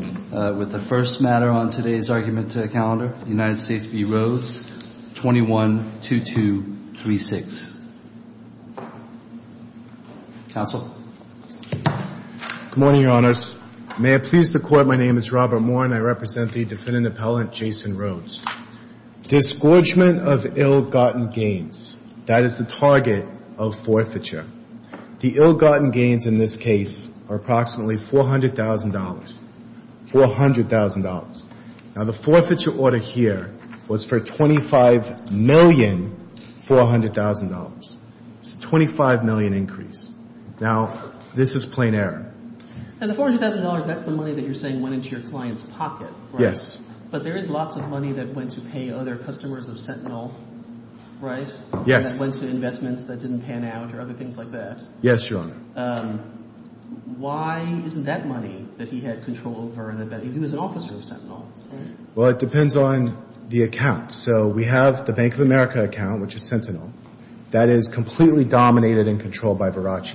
with the first matter on today's argument to the calendar United States v. Rhodes 21-2236. Counsel. Good morning your honors. May I please the court my name is Robert Moore and I represent the defendant appellant Jason Rhodes. Disgorgement of ill-gotten gains that is the target of $400,000. Now the forfeiture order here was for $25,400,000. It's a $25,000,000 increase. Now this is plain error. And the $400,000 that's the money that you're saying went into your client's pocket. Yes. But there is lots of money that went to pay other customers of Sentinel right? Yes. That went to investments that didn't pan out or other things like that. Yes your honor. Why isn't that money that he had control over? He was an officer of Sentinel. Well it depends on the account. So we have the Bank of America account which is Sentinel. That is completely dominated and controlled by Verace.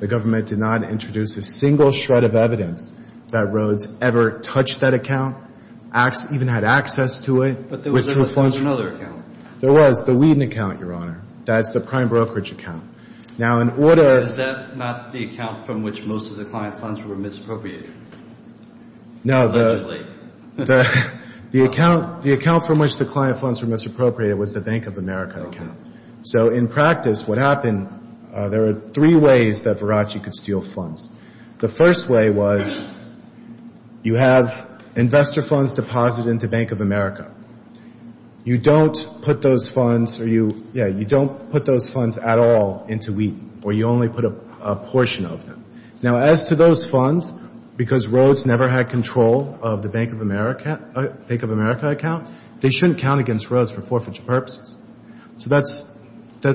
The government did not introduce a single shred of evidence that Rhodes ever touched that account, even had access to it. But there was another account. There was the Whedon account your honor. That's the prime Is that not the account from which most of the client funds were misappropriated? No. Allegedly. The account from which the client funds were misappropriated was the Bank of America account. So in practice what happened, there were three ways that Verace could steal funds. The first way was you have investor funds deposited into Bank of America. You don't put funds at all into Whedon or you only put a portion of them. Now as to those funds, because Rhodes never had control of the Bank of America account, they shouldn't count against Rhodes for forfeiture purposes. So that's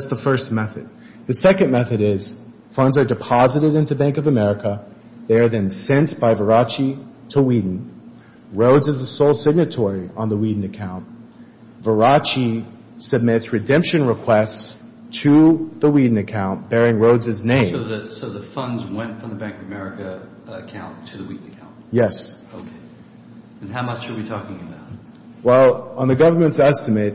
the first method. The second method is funds are deposited into Bank of America. They are then sent by Verace to Whedon. Rhodes is the sole signatory on the Whedon account. Verace submits redemption requests to the Whedon account bearing Rhodes's name. So the funds went from the Bank of America account to the Whedon account? Yes. Okay. And how much are we talking about? Well on the government's estimate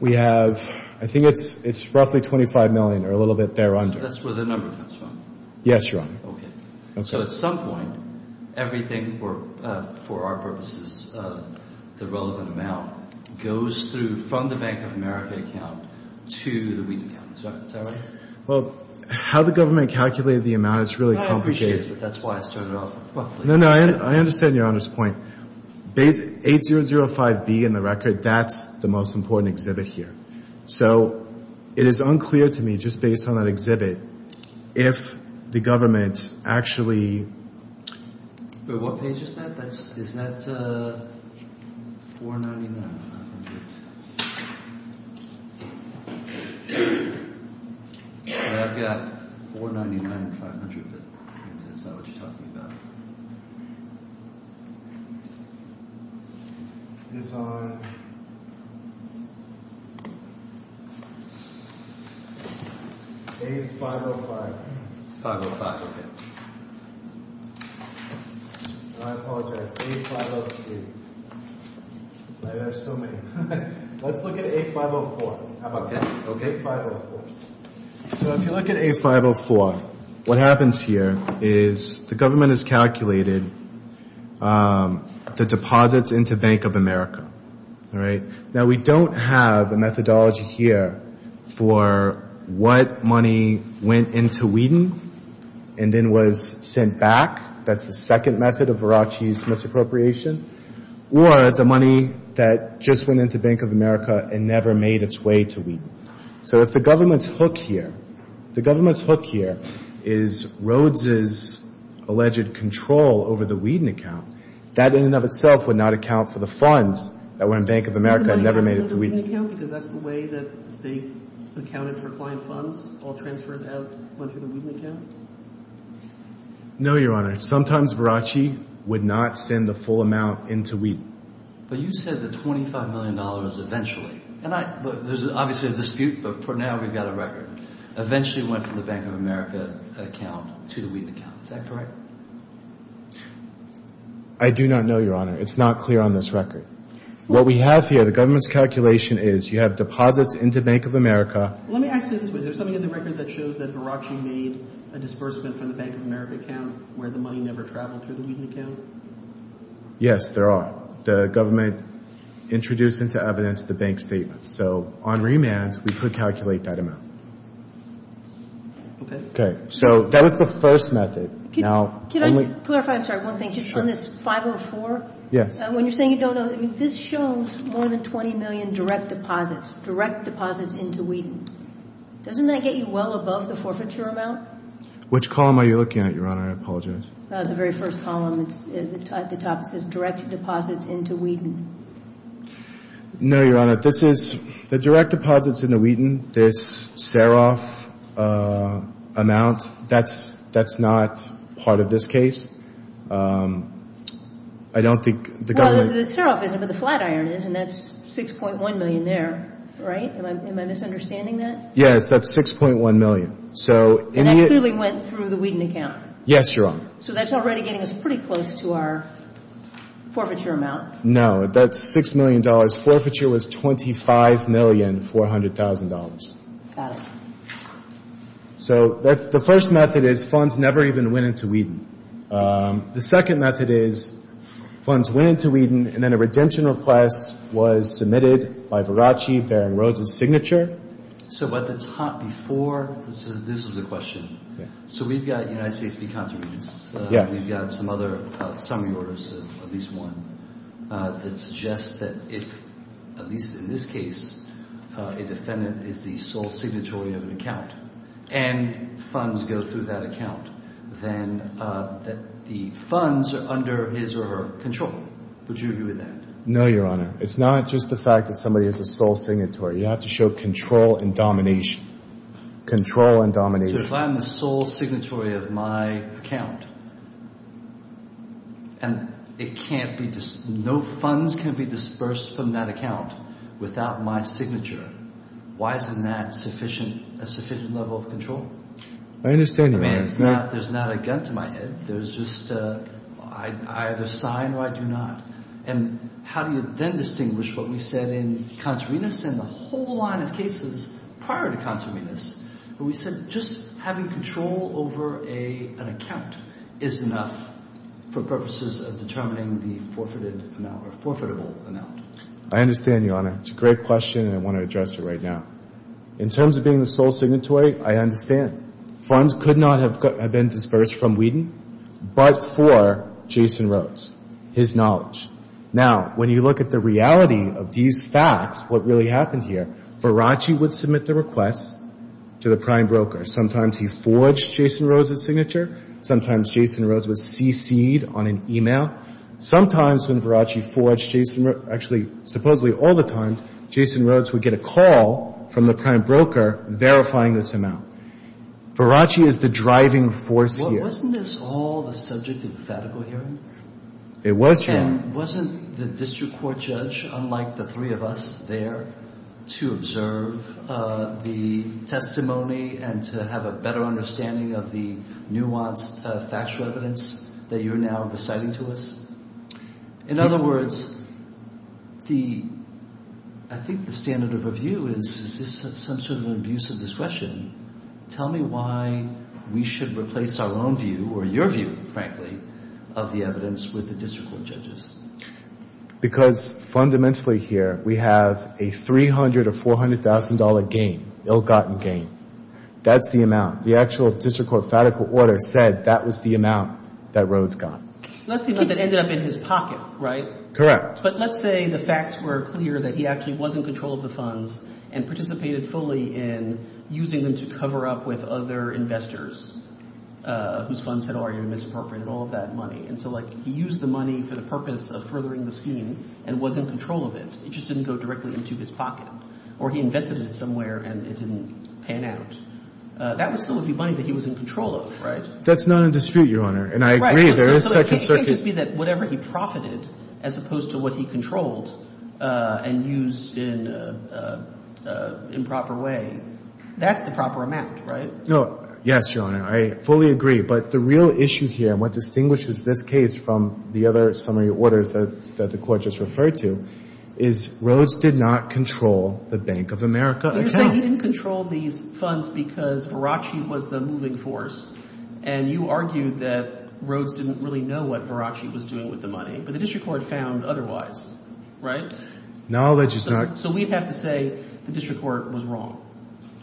we have, I think it's it's roughly 25 million or a little bit there under. That's where the number comes from? Yes your honor. Okay. So at some point everything or for our purposes the relevant amount goes through from the Bank of America account to the Whedon account. Is that right? Well how the government calculated the amount is really complicated. I appreciate it. That's why I started off. No, no. I understand your honor's point. 8005B in the record, that's the most important exhibit here. So it is unclear to me just based on that exhibit if the government actually... But what page is that? That's is that 499? I've got 499 and 500 but maybe that's not what you're talking about. It is on A505. I apologize, A503. Let's look at A504. So if you look at A504, what happens here is the of America. Now we don't have the methodology here for what money went into Whedon and then was sent back. That's the second method of Verace's misappropriation. Or the money that just went into Bank of America and never made its way to Whedon. So if the government's hook here, the government's hook here is Rhodes's alleged control over the Whedon account. That in and of itself would not account for the funds that went to Bank of America and never made it to Whedon. Because that's the way that they accounted for client funds, all transfers went through the Whedon account? No, your honor. Sometimes Verace would not send the full amount into Whedon. But you said the $25 million eventually. And there's obviously a dispute, but for now we've got a record. Eventually went from the Bank of America account to the Whedon account. Is that correct? I do not know, your honor. It's not clear on this record. What we have here, the government's calculation is you have deposits into Bank of America. Let me ask you this. Is there something in the record that shows that Verace made a disbursement from the Bank of America account where the money never traveled through the Whedon account? Yes, there are. The government introduced into evidence the bank statement. So on remand, we could calculate that amount. Okay. So that is the first method. Can I clarify one thing? Just on this 504? Yes. When you're saying you don't know, this shows more than $20 million direct deposits, direct deposits into Whedon. Doesn't that get you well above the forfeiture amount? Which column are you looking at, your honor? I apologize. The very first column. The top says direct deposits into Whedon. No, your honor. The direct deposits into Whedon, this Seroff amount, that's not part of this case. I don't think the government... The Seroff isn't, but the Flatiron is, and that's $6.1 million there, right? Am I misunderstanding that? Yes, that's $6.1 million. And that clearly went through the Whedon account? Yes, your honor. So that's already getting us pretty close to our forfeiture amount? No, that's $6 million. Forfeiture was $25,400,000. Got it. So the first method is funds never even went into Whedon. The second method is funds went into Whedon, and then a redemption request was submitted by Varachi bearing Rhodes' signature. So at the top before, this is the question. So we've got United States decontamination. We've got some other summary orders, at least one, that suggests that if, at least in this case, a defendant is the sole signatory of an account and funds go through that account, then the funds are under his or her control. Would you agree with that? No, your honor. It's not just the fact that somebody is a sole signatory. You have to show control and domination. Control and domination. So if I'm the sole signatory of my account, and no funds can be dispersed from that account without my signature, why isn't that a sufficient level of control? I understand, your honor. There's not a gun to my head. There's just, I either sign or I do not. And how do you then distinguish what we said in Contravenous and the whole line of cases prior to Contravenous, where we said just having control over an account is enough for purposes of determining the forfeited amount or forfeitable amount? I understand, your honor. It's a great question, and I want to address it right now. In terms of being the sole signatory, I understand. Funds could not have been dispersed from Whedon, but for Jason Rhodes, his knowledge. Now, when you look at the reality of these facts, what really happened here, Virachi would submit the request to the prime broker. Sometimes he forged Jason Rhodes' signature. Sometimes Jason Rhodes was CC'd on an e-mail. Sometimes when Virachi forged Jason Rhodes, actually, supposedly all the time, Jason Rhodes would get a call from the prime broker verifying this amount. Virachi is the driving force here. Wasn't this all the subject of the federal hearing? It was, your honor. And wasn't the district court judge, unlike the three of us there, to observe the testimony and to have a better understanding of the nuanced factual evidence that you're now reciting to us? In other words, I think the standard of review is, is this some sort of abuse of discretion? Tell me why we should replace our own view, or your view, frankly, of the evidence with the district court judge's. Because fundamentally here, we have a $300,000 or $400,000 gain, ill-gotten gain. That's the amount. The actual district court federal order said that was the amount that Rhodes got. That's the amount that ended up in his pocket, right? Correct. But let's say the facts were clear that he actually was in control of the funds and participated fully in using them to cover up with other investors, whose funds had already been misappropriated, all of that money. And so, like, he used the money for the purpose of furthering the scheme and was in control of it. It just didn't go directly into his pocket. Or he invented it somewhere and it didn't pan out. That would still be money that he was in control of, right? That's not in dispute, your honor. And I agree, there is second circuit. So it can't just be that whatever he profited, as opposed to what he controlled and used in a proper way, that's the proper amount, right? No. Yes, your honor. I fully agree. But the real issue here, what distinguishes this case from the other summary orders that the court just referred to, is Rhodes did not control the Bank of America account. You're saying he didn't control these funds because Verace was the moving force. And you argued that Rhodes didn't really know what Verace was doing with the money. But the district court found otherwise, right? No, that's just not. So we'd have to say the district court was wrong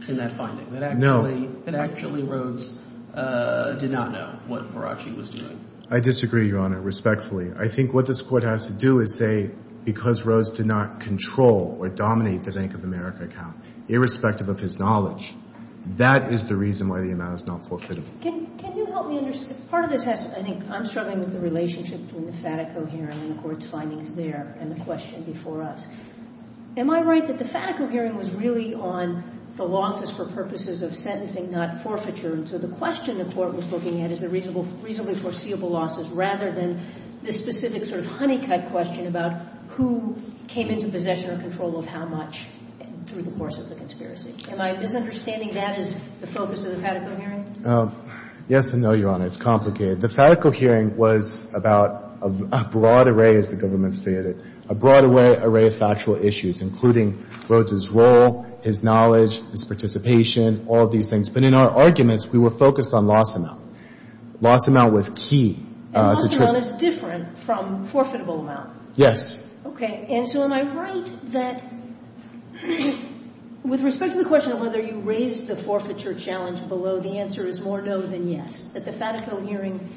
in that finding. No. That actually Rhodes did not know what Verace was doing. I disagree, your honor, respectfully. I think what this court has to do is say, because Rhodes did not control or dominate the Bank of America account, irrespective of his knowledge, that is the reason why the amount is not forfeitable. Can you help me understand, part of this has, I think, I'm struggling with the relationship between the Fatico hearing and the court's findings there and the question before us. Am I right that the Fatico hearing was really on the losses for purposes of sentencing, not forfeiture? And so the question the court was looking at is the reasonably foreseeable losses, rather than the specific sort of honey cut question about who came into possession or control of how much through the course of the conspiracy. Am I misunderstanding that as the focus of the The Fatico hearing was about a broad array, as the government stated, a broad array of factual issues, including Rhodes' role, his knowledge, his participation, all of these things. But in our arguments, we were focused on loss amount. Loss amount was key. And loss amount is different from forfeitable amount? Yes. Okay. And so am I right that with respect to the question of whether you raised the Fatico hearing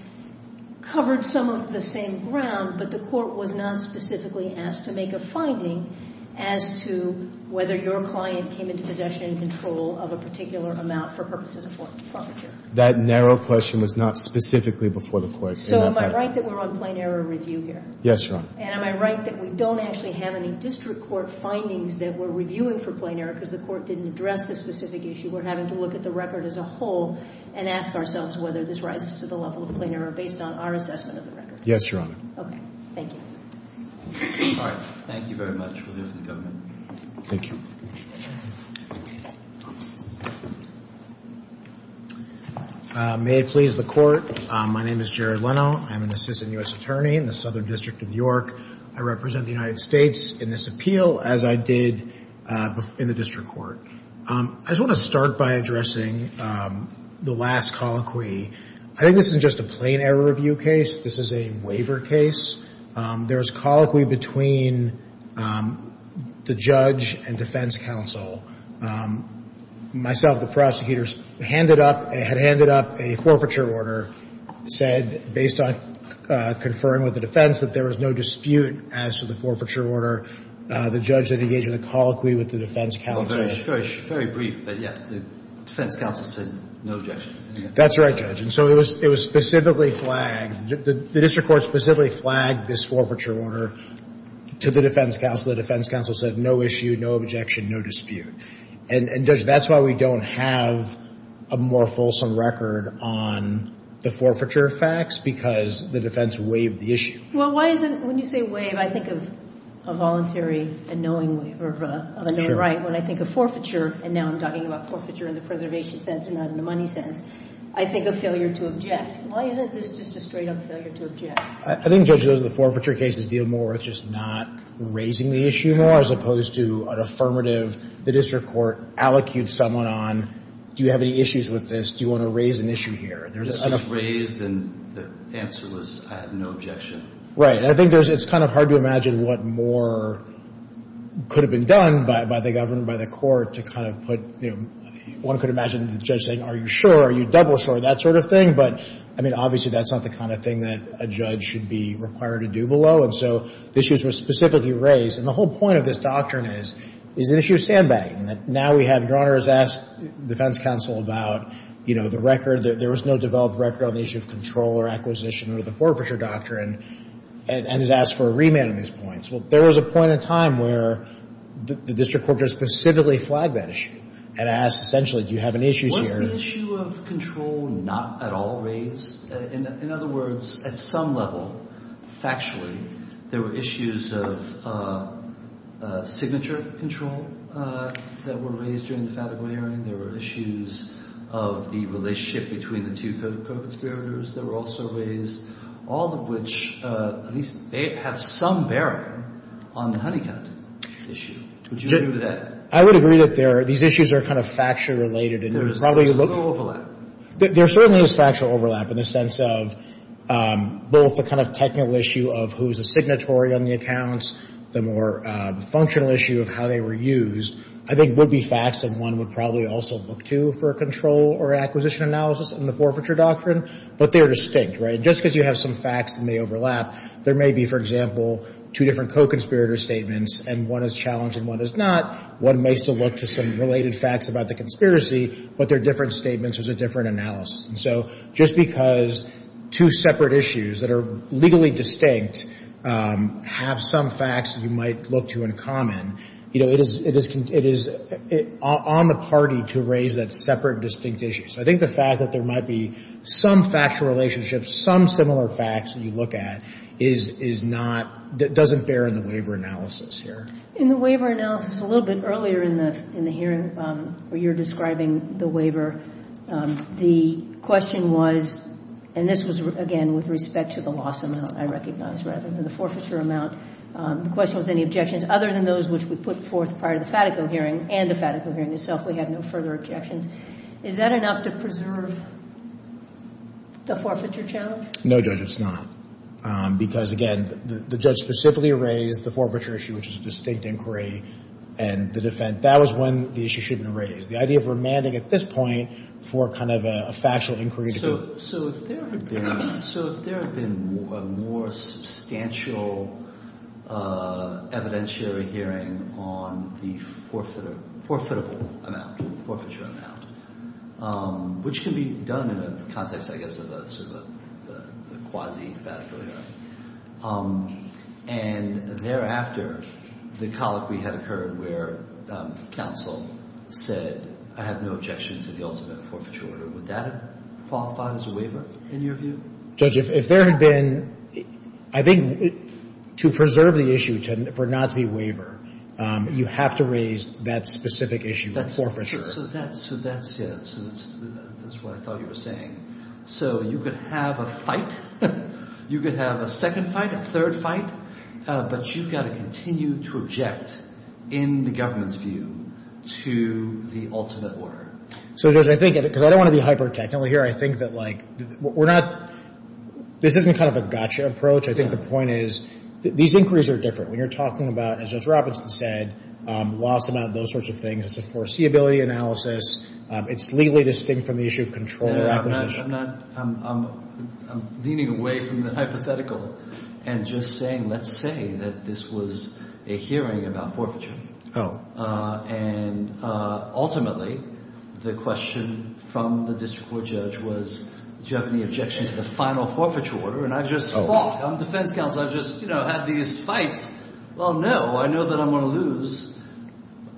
covered some of the same ground, but the court was not specifically asked to make a finding as to whether your client came into possession and control of a particular amount for purposes of forfeiture? That narrow question was not specifically before the court. So am I right that we're on plain error review here? Yes, Your Honor. And am I right that we don't actually have any district court findings that we're reviewing for plain error because the court didn't address the specific issue? We're asking ourselves whether this rises to the level of plain error based on our assessment of the record. Yes, Your Honor. Okay. Thank you. All right. Thank you very much. We'll hear from the government. Thank you. May it please the Court. My name is Jared Leno. I'm an assistant U.S. attorney in the Southern District of York. I represent the United States in this appeal as I did in the district court. I just want to start by addressing the last colloquy. I think this is just a plain error review case. This is a waiver case. There's colloquy between the judge and defense counsel. Myself, the prosecutors handed up – had handed up a forfeiture order, said based on conferring with the defense that there was no dispute as to the forfeiture order. The judge that engaged in the forfeiture order said that there was no dispute as to the forfeiture order. The defense counsel said no objection. That's right, Judge. And so it was specifically flagged – the district court specifically flagged this forfeiture order to the defense counsel. The defense counsel said no issue, no objection, no dispute. And, Judge, that's why we don't have a more fulsome record on the forfeiture facts because the defense waived the issue. Well, why isn't – when you say waive, I think of a voluntary and knowing waiver of a known right. When I think of forfeiture – and now I'm talking about forfeiture in the preservation sense and not in the money sense – I think of failure to object. Why isn't this just a straight-up failure to object? I think, Judge, those of the forfeiture cases deal more with just not raising the issue more as opposed to an affirmative. The district court allocutes someone on, do you have any issues with this? Do you want to raise an issue here? It was raised and the answer was no objection. Right. And I think there's – it's kind of hard to imagine what more could have been done by the government, by the court, to kind of put – one could imagine the judge saying, are you sure, are you double sure, that sort of thing. But, I mean, obviously, that's not the kind of thing that a judge should be required to do below. And so the issues were specifically raised. And the whole point of this doctrine is it's an issue of sandbagging, that now we have – Your Honor has asked the defense counsel about the record. There was no developed record on the issue of control or acquisition under the forfeiture doctrine and has asked for a remand on these points. Well, there was a point in time where the district court just specifically flagged that issue and asked, essentially, do you have any issues here? Was the issue of control not at all raised? In other words, at some level, factually, there were issues of signature control that were raised during the fatiguing hearing. There were issues of the relationship between the two co-conspirators that were also raised, all of which – at least they have some bearing on the Honeycutt issue. Would you agree with that? I would agree that they're – these issues are kind of factually related. There is factual overlap. There certainly is factual overlap in the sense of both the kind of technical issue of who is a signatory on the accounts, the more functional issue of how they were used, I think would be facts that one would probably also look to for a control or acquisition analysis in the forfeiture doctrine, but they are distinct, right? Just because you have some facts and they overlap, there may be, for example, two different co-conspirator statements and one is challenged and one is not. One may still look to some related facts about the conspiracy, but they're different statements. It's a different distinct, have some facts that you might look to in common. It is on the party to raise that separate distinct issue. So I think the fact that there might be some factual relationship, some similar facts that you look at, is not – doesn't bear in the waiver analysis here. In the waiver analysis, a little bit earlier in the hearing where you're describing the waiver, the question was, and this was, again, with respect to the loss amount, I recognize, rather than the forfeiture amount. The question was any objections other than those which we put forth prior to the Fatico hearing and the Fatico hearing itself. We had no further objections. Is that enough to preserve the forfeiture challenge? No, Judge, it's not. Because, again, the judge specifically raised the forfeiture issue, which is a distinct inquiry, and the defense. That was one the issue shouldn't have raised. The idea of remanding at this point for kind of a factual inquiry. So if there had been a more substantial evidentiary hearing on the forfeitable amount, forfeiture amount, which can be done in a context, I guess, of a quasi-Fatico hearing, and thereafter the colloquy had occurred where counsel said I have no objections to the ultimate forfeiture order, would that qualify as a waiver in your view? Judge, if there had been – I think to preserve the issue for it not to be a waiver, you have to raise that specific issue of forfeiture. So that's it. So that's what I thought you were saying. So you could have a fight. You could have a second fight, a third fight. But you've got to continue to object in the government's view to the ultimate order. So, Judge, I think – because I don't want to be hyper-technical here. I think that, like, we're not – this isn't kind of a gotcha approach. I think the point is these inquiries are different. When you're talking about, as Judge Robinson said, loss amount and those sorts of things, it's a foreseeability analysis. It's legally distinct from the issue of control or acquisition. I'm leaning away from the hypothetical and just saying let's say that this was a hearing about forfeiture. And ultimately, the question from the district court judge was, do you have any objections to the final forfeiture order? And I've just fought. I'm defense counsel. I've just had these fights. Well, no. I know that I'm going to lose,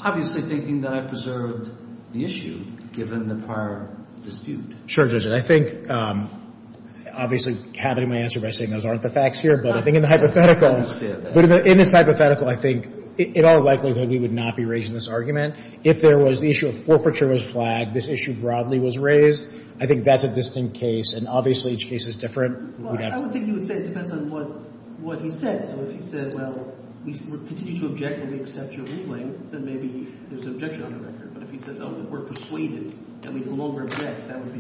obviously thinking that I preserved the issue given the prior dispute. Sure, Judge. And I think – obviously, I have it in my answer by saying those aren't the facts here. But I think in the hypothetical – I understand that. But in this hypothetical, I think in all likelihood, we would not be raising this argument. If there was the issue of forfeiture was flagged, this issue broadly was raised, I think that's a distinct case. And obviously, each case is different. Well, I would think you would say it depends on what he said. So if he said, well, we continue to object and we accept your ruling, then maybe there's an objection on the record. But if he says, oh, we're persuaded and we no longer object, that would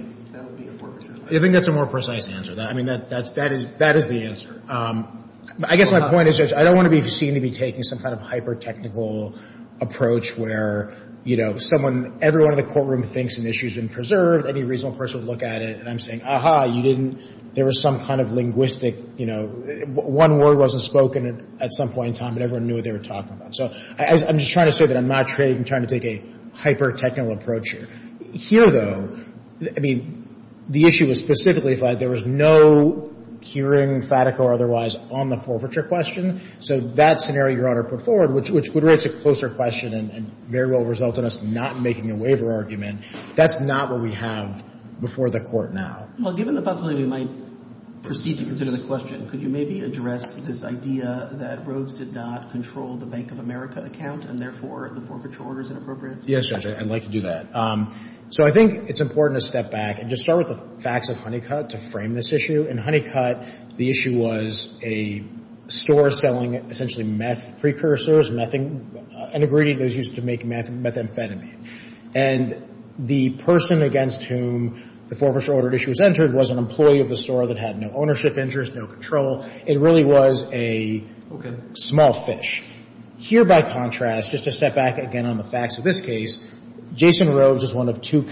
be a forfeiture. I think that's a more precise answer. I mean, that is the answer. I guess my point is, Judge, I don't want to be seen to be taking some kind of hyper-technical approach where, you know, someone – everyone in the courtroom thinks an issue has been preserved, any reasonable person would look at it, and I'm saying, aha, you didn't – there was some kind of linguistic – you know, one word wasn't spoken at some point in time, but everyone knew what they were talking about. So I'm just trying to say that I'm not trying to take a hyper-technical approach here. Here, though, I mean, the issue was specifically flagged. There was no hearing, fatico or otherwise, on the forfeiture question. So that scenario, Your Honor, put forward, which would raise a closer question and very well result in us not making a waiver argument, that's not what we have before the Court now. Well, given the possibility, we might proceed to consider the question. Could you maybe address this idea that Rhodes did not control the Bank of America account and, therefore, the forfeiture order is inappropriate? Yes, Judge, I'd like to do that. So I think it's important to step back and just start with the facts of Honeycutt to frame this issue. In Honeycutt, the issue was a store selling essentially meth precursors, methamphetamine. And the person against whom the forfeiture order issue was entered was an employee of the store that had no ownership interest, no control. It really was a small fish. Here, by contrast, just to step back again on the facts of this case, Jason Rhodes is one of two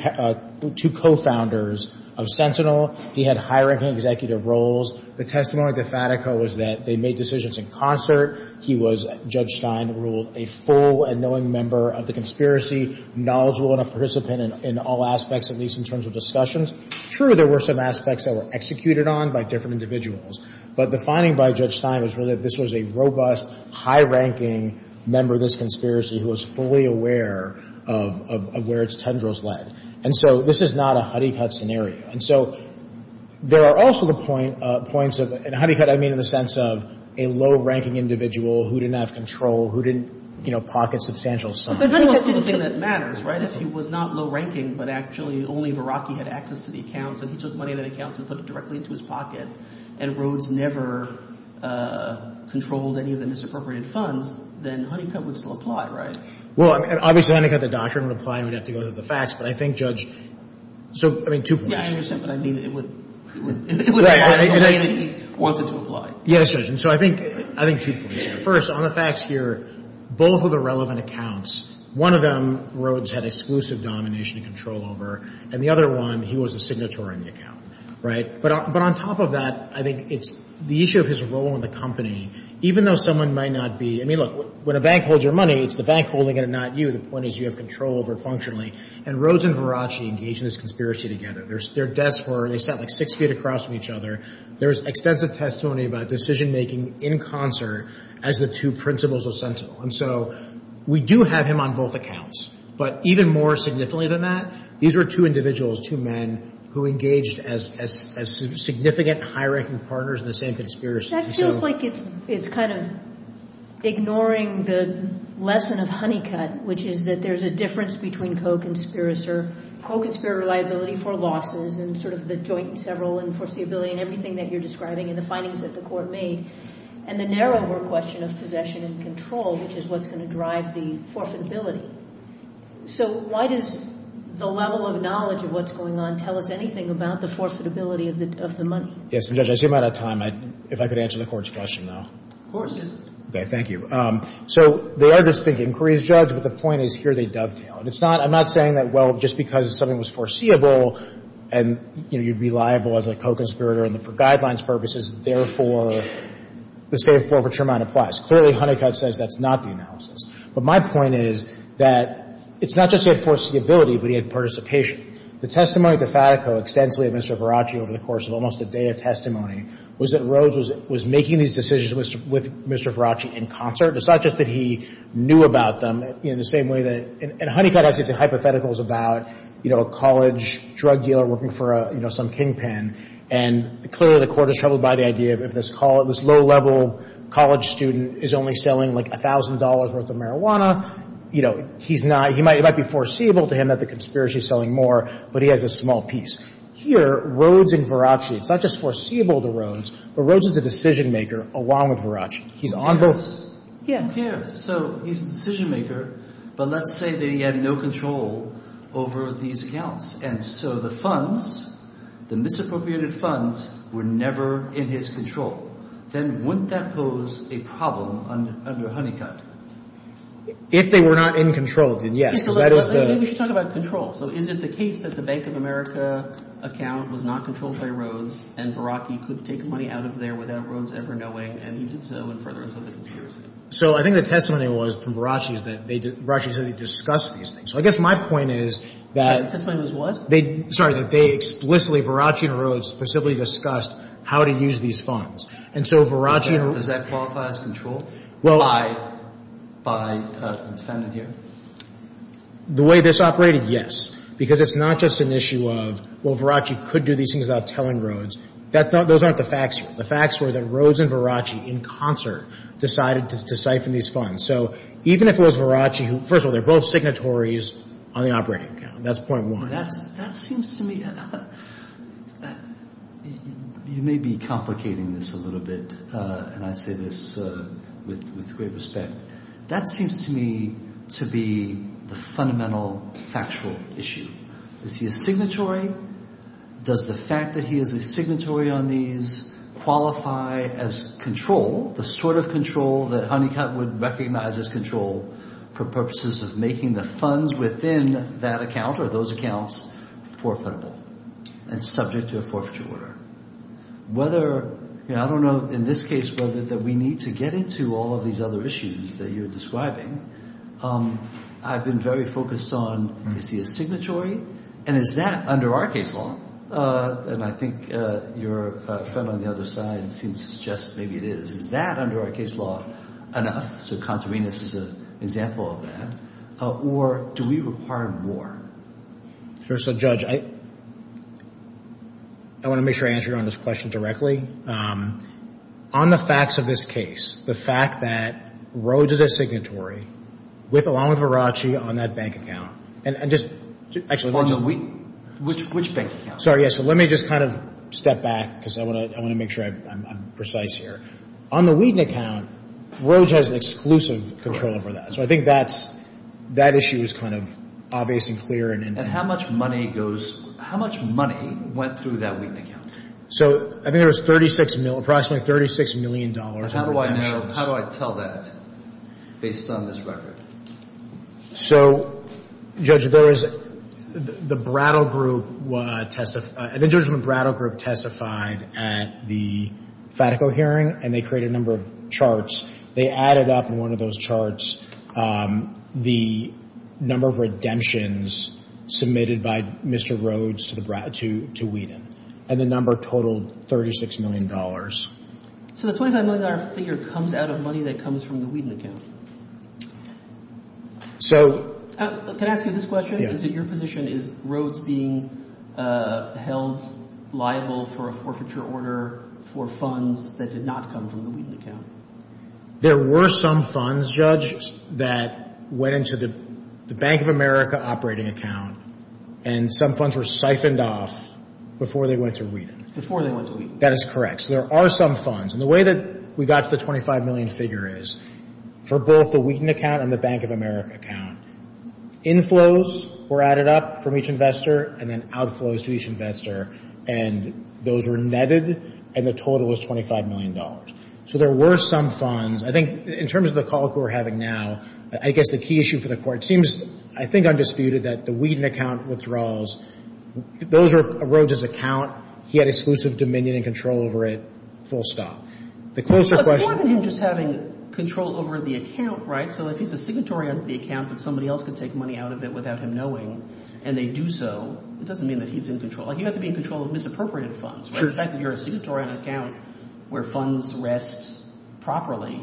co-founders of Sentinel. He had high-ranking executive roles. The testimony of the fatico was that they made decisions in concert. He was, Judge Stein ruled, a full and knowing member of the conspiracy, knowledgeable and a participant in all aspects, at least in terms of discussions. True, there were some aspects that were executed on by different individuals. But the finding by Judge Stein was really that this was a robust, high-ranking member of this conspiracy who was fully aware of where its tundra was led. And so this is not a Honeycutt scenario. And so there are also the points of, and Honeycutt, I mean in the sense of a low-ranking individual who didn't have control, who didn't, you know, pocket substantial sums. But control is the only thing that matters, right? If he was not low-ranking, but actually only Verrocki had access to the accounts and he took money out of the accounts and put it directly into his pocket, and Rhodes never controlled any of the misappropriated funds, then Honeycutt would still apply, right? Well, I mean, obviously, Honeycutt, the doctrine, would apply and we'd have to go through the facts. But I think, Judge, so, I mean, two points. Yeah, I understand. But I mean, it would, it would apply in the way that he wants it to apply. Yes, Judge. And so I think, I think two points here. First, on the facts here, both of the relevant accounts, one of them Rhodes had exclusive domination and control over, and the other one, he was a signatory in the account, right? But on top of that, I think it's the issue of his role in the company, even though someone might not be, I mean, look, when a bank holds your money, it's the bank holding it and not you. The point is you have control over it functionally. And Rhodes and Verrocki engaged in this conspiracy together. There's their desk where they sat like six feet across from each other. There was extensive testimony about decision-making in concert as the two principles were sensible. And so we do have him on both accounts. But even more significantly than that, these were two individuals, two men, who engaged as significant, high-ranking partners in the same conspiracy. That feels like it's, it's kind of ignoring the lesson of honeycut, which is that there's a difference between co-conspirator, co-conspirator liability for losses and sort of the joint and several and foreseeability and everything that you're describing and the findings that the court made and the narrower question of possession and control, which is what's going to drive the forfeitability. So why does the level of knowledge of what's going on tell us anything about the forfeitability of the money? Yes, Judge, I see I'm out of time. If I could answer the court's question now. Of course. Okay, thank you. So they are just thinking, Korea's judge, but the point is here they dovetail. And it's not, I'm not saying that, well, just because something was foreseeable and, you know, you'd be liable as a co-conspirator and for guidelines purposes, therefore, the same form for Tremont applies. Clearly, honeycut says that's not the analysis. But my point is that it's not just the foreseeability, but he had participation. The testimony to Fatico extensively of Mr. Faraci over the course of almost a day of testimony was that Rhodes was making these decisions with Mr. Faraci in concert. It's not just that he knew about them in the same way that, and honeycut has these hypotheticals about, you know, a college drug dealer working for, you know, some kingpin. And clearly the court is troubled by the idea of this low-level college student is only selling like $1,000 worth of marijuana. You know, he's not, it might be foreseeable to him that the conspiracy is selling more, but he has a small piece. Here, Rhodes and Faraci, it's not just foreseeable to Rhodes, but Rhodes is the decision maker along with Faraci. He's on both. Who cares? So he's the control over these accounts. And so the funds, the misappropriated funds were never in his control. Then wouldn't that pose a problem under honeycut? If they were not in control, then yes. Maybe we should talk about control. So is it the case that the Bank of America account was not controlled by Rhodes and Faraci could take money out of there without Rhodes ever knowing, and he did so in furtherance of the conspiracy? So I think the testimony was from Faraci is that they, Faraci said they discussed these things. So I guess my point is that The testimony was what? They, sorry, that they explicitly, Faraci and Rhodes specifically discussed how to use these funds. And so Faraci and Rhodes Does that qualify as control by the defendant here? The way this operated, yes. Because it's not just an issue of, well, Faraci could do these things without telling Rhodes. That's not, those aren't the facts here. The facts were that Rhodes and Faraci in concert decided to siphon these funds. So even if it was Faraci, first of all, they're both signatories on the operating account. That's point one. That seems to me, you may be complicating this a little bit, and I say this with great respect. That seems to me to be the fundamental factual issue. Is he a signatory? Does the fact that he is a signatory on these qualify as control, the sort of control that Honeycutt would recognize as control for purposes of making the funds within that account or those accounts forfeitable and subject to a forfeiture order? I don't know in this case whether that we need to get into all of these other issues that you're describing. I've been very focused on, is he your friend on the other side seems to suggest maybe it is. Is that under our case law enough? So contravenous is an example of that. Or do we require more? Sure. So, Judge, I want to make sure I answer your honest question directly. On the facts of this case, the fact that Rhodes is a signatory along with Faraci on that bank account. Which bank account? Let me just kind of step back because I want to make sure I'm precise here. On the Wheaton account, Rhodes has exclusive control over that. So I think that issue is kind of obvious and clear. And how much money goes, how much money went through that Wheaton account? So I think there was approximately $36 million. How do I know, how do I tell that based on this record? So, Judge, there is, the Brattle Group testified at the Fatico hearing and they created a number of charts. They added up in one of those charts the number of redemptions submitted by Mr. Rhodes to the Brattle, to Wheaton. And the number totaled $36 million. So the $25 million figure comes out of money that comes from the Wheaton account? Can I ask you this question? Is it your position, is Rhodes being held liable for a forfeiture order for funds that did not come from the Wheaton account? There were some funds, Judge, that went into the Bank of America operating account and some funds were siphoned off before they went to Wheaton. Before they went to Wheaton? That is correct. So there are some funds. And the way that we got to the $25 million figure is for both the Wheaton account and the Bank of America account, inflows were added up from each investor and then outflows to each investor and those were netted and the total was $25 million. So there were some funds. I think in terms of the call we're having now, I guess the key issue for the court seems, I think, undisputed that the Wheaton account withdrawals, those were Rhodes' account. He had exclusive dominion and control over it, the closer question... It's more than him just having control over the account, right? So if he's a signatory of the account but somebody else could take money out of it without him knowing and they do so, it doesn't mean that he's in control. You have to be in control of misappropriated funds, right? Sure. The fact that you're a signatory on an account where funds rest properly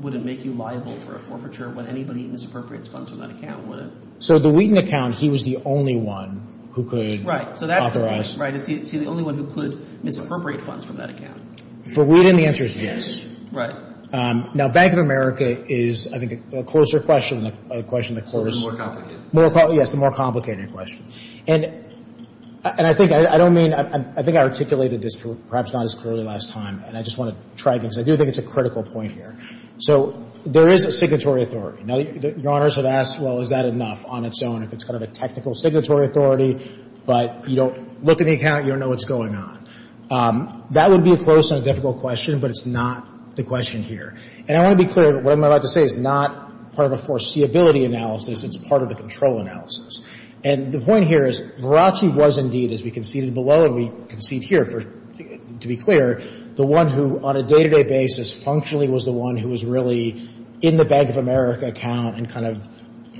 wouldn't make you liable for a forfeiture when anybody misappropriates funds from that account, would it? So the Wheaton account, he was the only one who could authorize... Right, so that's the thing, right? Is he the only one who could misappropriate funds from that account? For Wheaton, the answer is yes. Right. Now, Bank of America is, I think, a closer question than the question that courts... It's the more complicated. Yes, the more complicated question. And I think I don't mean, I think I articulated this perhaps not as clearly last time and I just want to try again because I do think it's a critical point here. So there is a signatory authority. Now, Your Honors have asked, well, is that enough on its own if it's kind of a technical signatory authority? But you don't look at the account, you don't know what's going on. That would be a close and difficult question, but it's not the question here. And I want to be clear, what I'm about to say is not part of a foreseeability analysis, it's part of a control analysis. And the point here is, Verrachi was indeed, as we conceded below and we concede here to be clear, the one who on a day-to-day basis functionally was the one who was really in the Bank of America account and kind of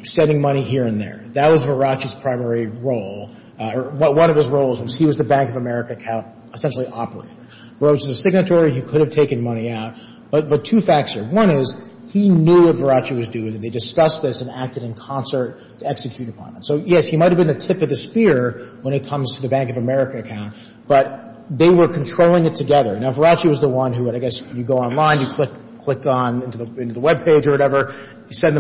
sending money here and there. That was Verrachi's primary role, or one of his roles was he was the Bank of America account essentially operator. Well, it was a signatory, he could have taken money out, but two facts here. One is, he knew what Verrachi was doing and they discussed this and acted in concert to execute upon it. So yes, he might have been the tip of the spear when it comes to the Bank of America account, but they were controlling it together. Now, Verrachi was the one who would, I guess, you go online, you click on into the webpage or whatever, you send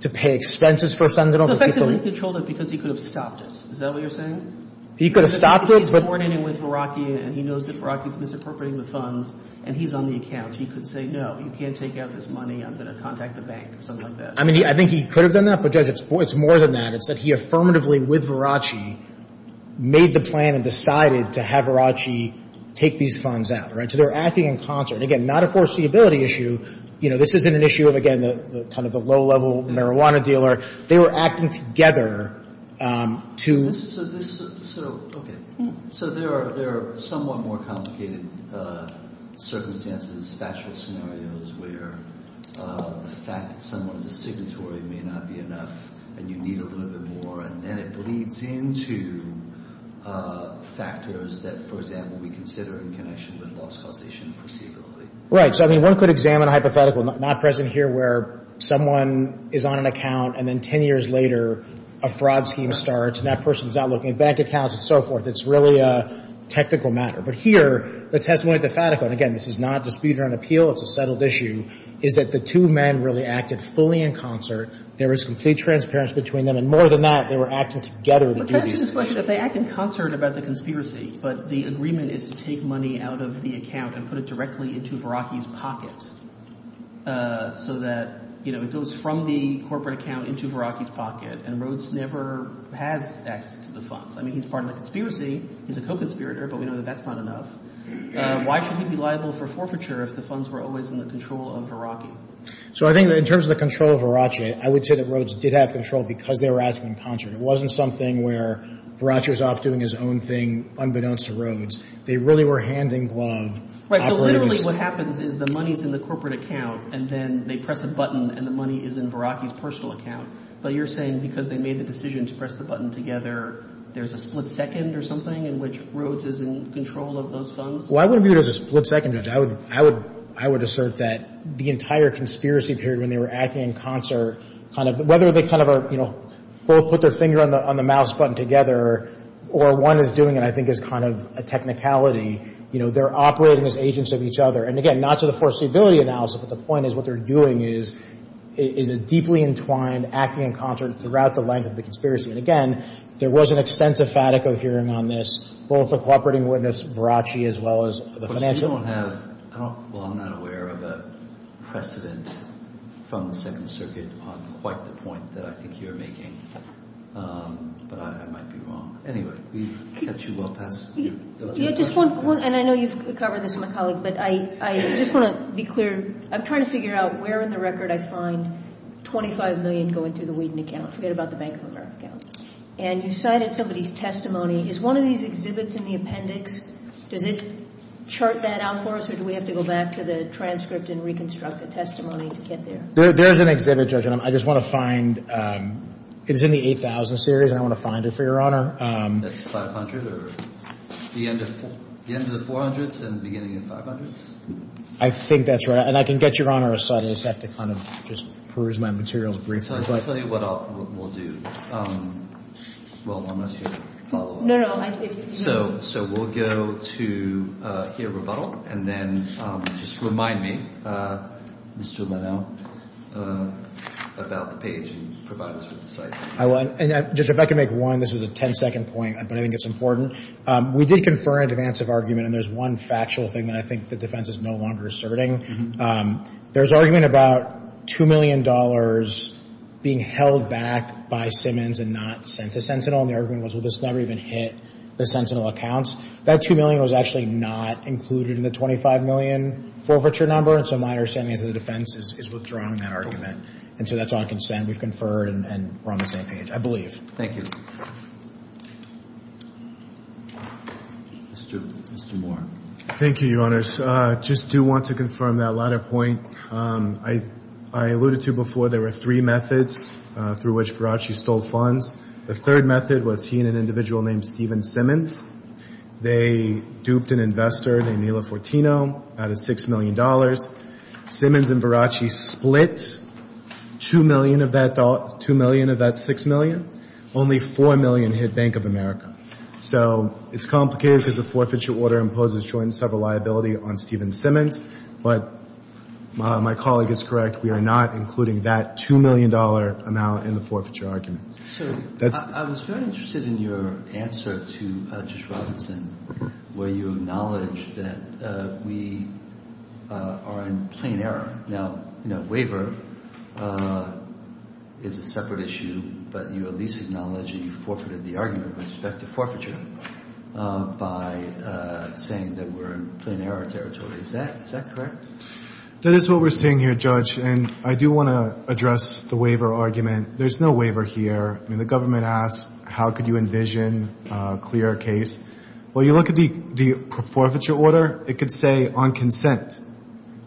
the pay expenses for some of the people. So effectively, he controlled it because he could have stopped it. Is that what you're saying? He could have stopped it. He's born in and with Verrachi and he knows that Verrachi is misappropriating the funds and he's on the account. He could say, no, you can't take out this money, I'm going to contact the bank or something like that. I mean, I think he could have done that, but, Judge, it's more than that. It's that he affirmatively with Verrachi made the plan and decided to have Verrachi take these funds out, right? So they're acting in concert. Again, not a foreseeability issue. You know, this isn't an issue of, again, kind of the low-level marijuana dealer. They were acting together to... So this is a... So, okay. So there are somewhat more complicated circumstances, factual scenarios where the fact that someone is a signatory may not be enough and you need a little bit more and then it bleeds into factors that, for example, we consider in connection with loss causation and foreseeability. Right. So, I mean, one could examine a hypothetical, not present here, where someone is on an account and then 10 years later, a fraud scheme starts and that person's not looking at bank accounts and so forth. It's really a technical matter. But here, the testimony at the Fatico, and again, this is not dispute or an appeal, it's a settled issue, is that the two men really acted fully in concert. There was complete transparence between them. And more than that, they were acting together to do these things. But to answer his question, if they act in concert about the conspiracy, but the agreement is to take money out of the account and put it directly into Verace's pocket, so that, you know, it goes from the corporate account into Verace's pocket and Rhodes never has access to the funds. I mean, he's part of the conspiracy, he's a co-conspirator, but we know that that's not enough. Why should he be liable for forfeiture if the funds were always in the control of Verace? So I think that in terms of the control of Verace, I would say that Rhodes did have control because they were acting in concert. It wasn't something where Verace was off doing his own thing, unbeknownst to Rhodes. They really were hand-in-glove operators. Right. So literally what happens is the money's in the corporate account, and then they press a button and the money is in Verace's personal account. But you're saying because they made the decision to press the button together, there's a split second or something in which Rhodes is in control of those funds? Well, I wouldn't view it as a split second, Judge. I would assert that the entire conspiracy period when they were acting in concert, kind of whether they kind of are, both put their finger on the mouse button together or one is doing it, I think, is kind of a technicality. They're operating as agents of each other. And again, not to the foreseeability analysis, but the point is what they're doing is a deeply entwined acting in concert throughout the length of the conspiracy. And again, there was an extensive Fatico hearing on this, both the cooperating witness, Verace, as well as the financial. But you don't have, well, I'm not aware of a precedent from the Second Circuit on quite the point that I think you're making, but I might be wrong. Anyway, we've kept you well past your time. And I know you've covered this with my colleague, but I just want to be clear. I'm trying to figure out where in the record I find 25 million going through the Whedon account. Forget about the Bank of America account. And you cited somebody's testimony. Is one of these exhibits in the appendix, does it chart that out for us, or do we have to go back to the transcript and reconstruct the testimony to get there? There's an exhibit, Judge, and I just want to find, it's in the 8000 series, and I want to find it for Your Honor. That's 500, or the end of the 400s and the beginning of the 500s? I think that's right. And I can get Your Honor a slide, I just have to kind of just peruse my materials briefly. Let me tell you what we'll do. Well, unless you follow up. No, no, I think you can. So we'll go to here, rebuttal, and then just remind me, Mr. Leno, about the page and provide us with the site. I will. And Judge, if I could make one, this is a 10-second point, but I think it's important. We did confer an in advance of argument, and there's one factual thing that I think the defense is no longer asserting. There's argument about $2 million being held back by Simmons and not sent to Sentinel, and the argument was, well, it's never even hit the Sentinel accounts. That $2 million was actually not included in the $25 million forfeiture number, and so my understanding is that the defense is withdrawing that argument. And so that's on consent. We've conferred, and we're on the same page, I believe. Thank you. Mr. Moore. Thank you, Your Honors. I just do want to confirm that latter point. I alluded to before, there were three methods through which Garacci stole funds. The third method was he and an individual named Stephen Simmons. They duped an investor named Nila Fortino out of $6 million. Simmons and Garacci split $2 million of that $6 million. Only $4 million hit Bank of America. So it's complicated because the forfeiture order imposes joint and several liability on Stephen Simmons, but my colleague is correct. We are not including that $2 million amount in the forfeiture argument. So I was very interested in your answer to Judge Robinson, where you acknowledge that we are in plain error. Now, waiver is a separate issue, but you at least acknowledge that you forfeited the argument with respect to forfeiture by saying that we're in plain error territory. Is that correct? That is what we're saying here, Judge, and I do want to address the waiver argument. There's no waiver here. I mean, the government asks, how could you envision a clearer case? Well, you look at the forfeiture order, it could say on consent.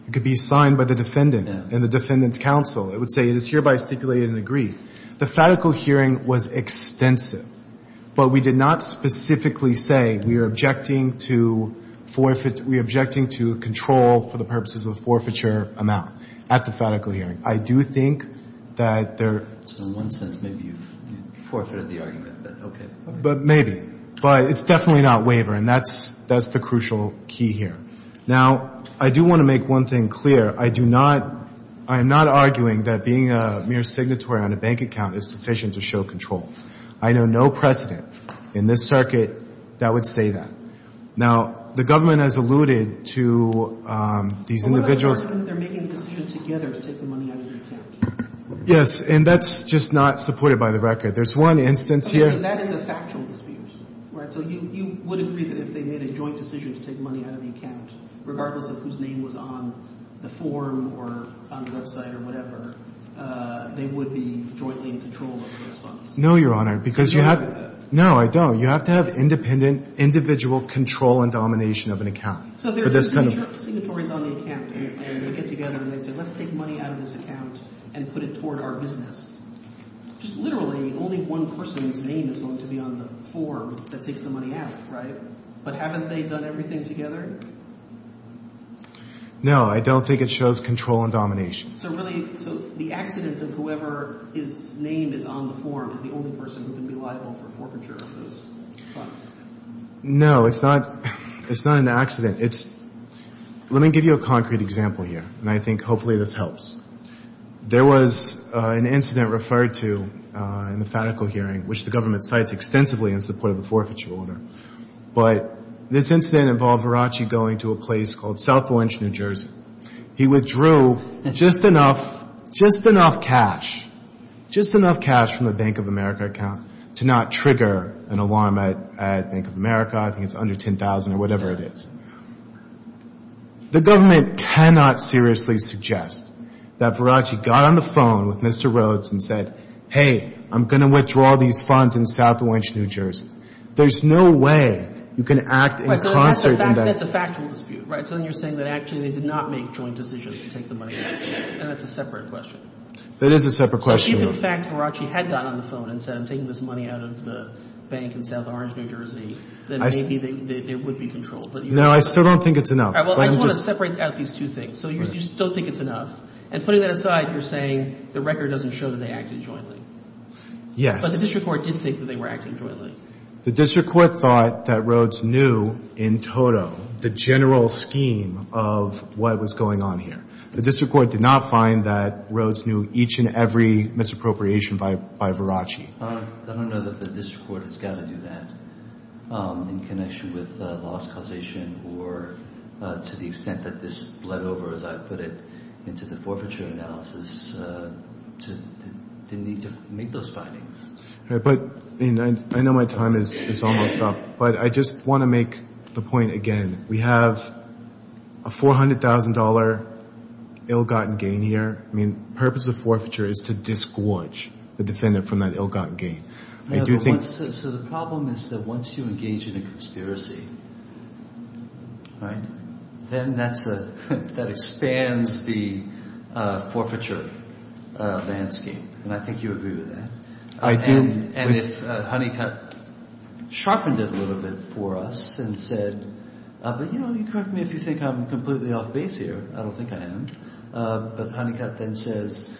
It could be signed by the defendant and the defendant's counsel. It would say, it is hereby stipulated and agreed. The fatical hearing was extensive, but we did not specifically say we are objecting to forfeit, we are objecting to control for the purposes of forfeiture amount at the fatical hearing. I do think that there... So in one sense, maybe you forfeited the argument, but okay. But maybe. But it's definitely not waiver, and that's the crucial key here. Now, I do want to make one thing clear. I do not, I am not arguing that being a mere signatory on a bank account is sufficient to show control. I know no precedent in this circuit that would say that. Now, the government has alluded to these individuals... Yes, and that's just not supported by the record. There's one instance here... That is a factual dispute, right? So you would agree that if they made a joint decision to take money out of the account, regardless of whose name was on the form or on the website or whatever, they would be jointly in control of the response? No, Your Honor, because you have... No, I don't. You have to have independent, individual control and domination of an account for this kind of... So if there are two signatories on the account and they get together and they say, let's take money out of this account and put it toward our business, just literally only one person's name is going to be on the form that takes the money out, right? But haven't they done everything together? No, I don't think it shows control and domination. So really, so the accident of whoever his name is on the form is the only person who can be liable for forfeiture of those funds? No, it's not, it's not an accident. It's... Let me give you a concrete example here, and I think hopefully this helps. There was an incident referred to in the fatical hearing, which the government cites extensively in support of the forfeiture order. But this incident involved Verace going to a place called South Orange, New Jersey. He withdrew just enough, just enough cash, just enough cash from the Bank of America account to not trigger an alarm at Bank of America. I think it's under $10,000 or whatever it is. The government cannot seriously suggest that Verace got on the phone with Mr. Rhodes and said, hey, I'm going to withdraw these funds in South Orange, New Jersey. There's no way you can act in concert... Right, so that's a factual dispute, right? So then you're saying that actually they did not make joint decisions to take the money out, and that's a separate question. That is a separate question. So if in fact Verace had gotten on the phone and said, I'm taking this money out of the bank in South Orange, New Jersey, then maybe there would be control. No, I still don't think it's enough. Well, I just want to separate out these two things. So you still think it's enough. And putting that aside, you're saying the record doesn't show that they acted jointly. Yes. But the district court did think that they were acting jointly. The district court thought that Rhodes knew in total the general scheme of what was going on here. The district court did not find that Rhodes knew each and every misappropriation by Verace. I don't know that the district court has got to do that in connection with loss causation or to the extent that this bled over, as I put it, into the forfeiture analysis. They need to make those findings. But I know my time is almost up, but I just want to make the point again, we have a $400,000 ill-gotten gain here. Purpose of forfeiture is to disgorge the defendant from that ill-gotten gain. So the problem is that once you engage in a conspiracy, then that expands the forfeiture landscape. And I think you agree with that. And if Honeycutt sharpened it a little bit for us and said, but you correct me if you think I'm completely off base here. I don't think I am. But Honeycutt then says,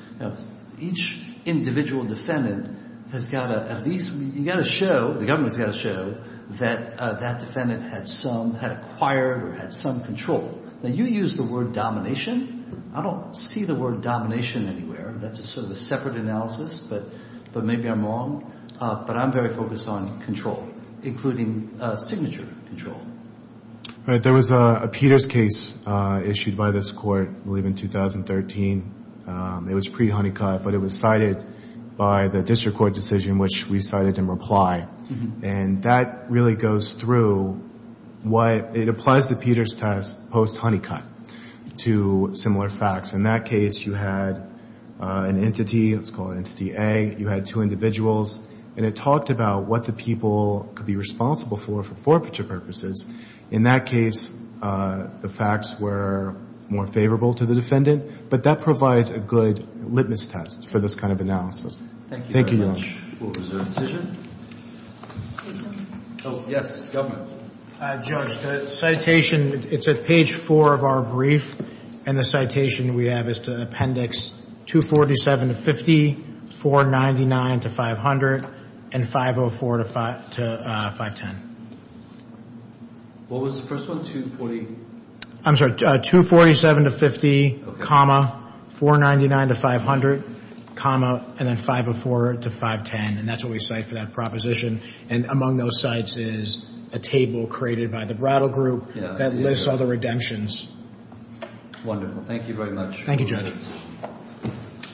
each individual defendant has got to at least, you got to show, the government's got to show that that defendant had some, had acquired or had some control. Now you use the word domination. I don't see the word domination anywhere. That's a sort of a separate analysis, but maybe I'm wrong. But I'm very focused on control, including signature control. All right. There was a Peters case issued by this court, I believe in 2013. It was pre-Honeycutt, but it was cited by the district court decision, which we cited in reply. And that really goes through what it applies to Peters test post-Honeycutt to similar facts. In that case, you had an entity, let's call it entity A, you had two individuals, and it talked about what the people could be responsible for for forfeiture purposes. In that case, the facts were more favorable to the defendant, but that provides a good litmus test for this kind of analysis. Thank you very much. Is there a decision? Oh, yes, government. Judge, the citation, it's at page four of our brief. And the citation we have is to appendix 247 to 50, 499 to 500, and 504 to 510. What was the first one, 240? I'm sorry, 247 to 50, 499 to 500, and then 504 to 510. And that's what we cite for that proposition. And among those sites is a table created by the Brattle Group that lists all the redemptions. Thank you, Judge. Thank you.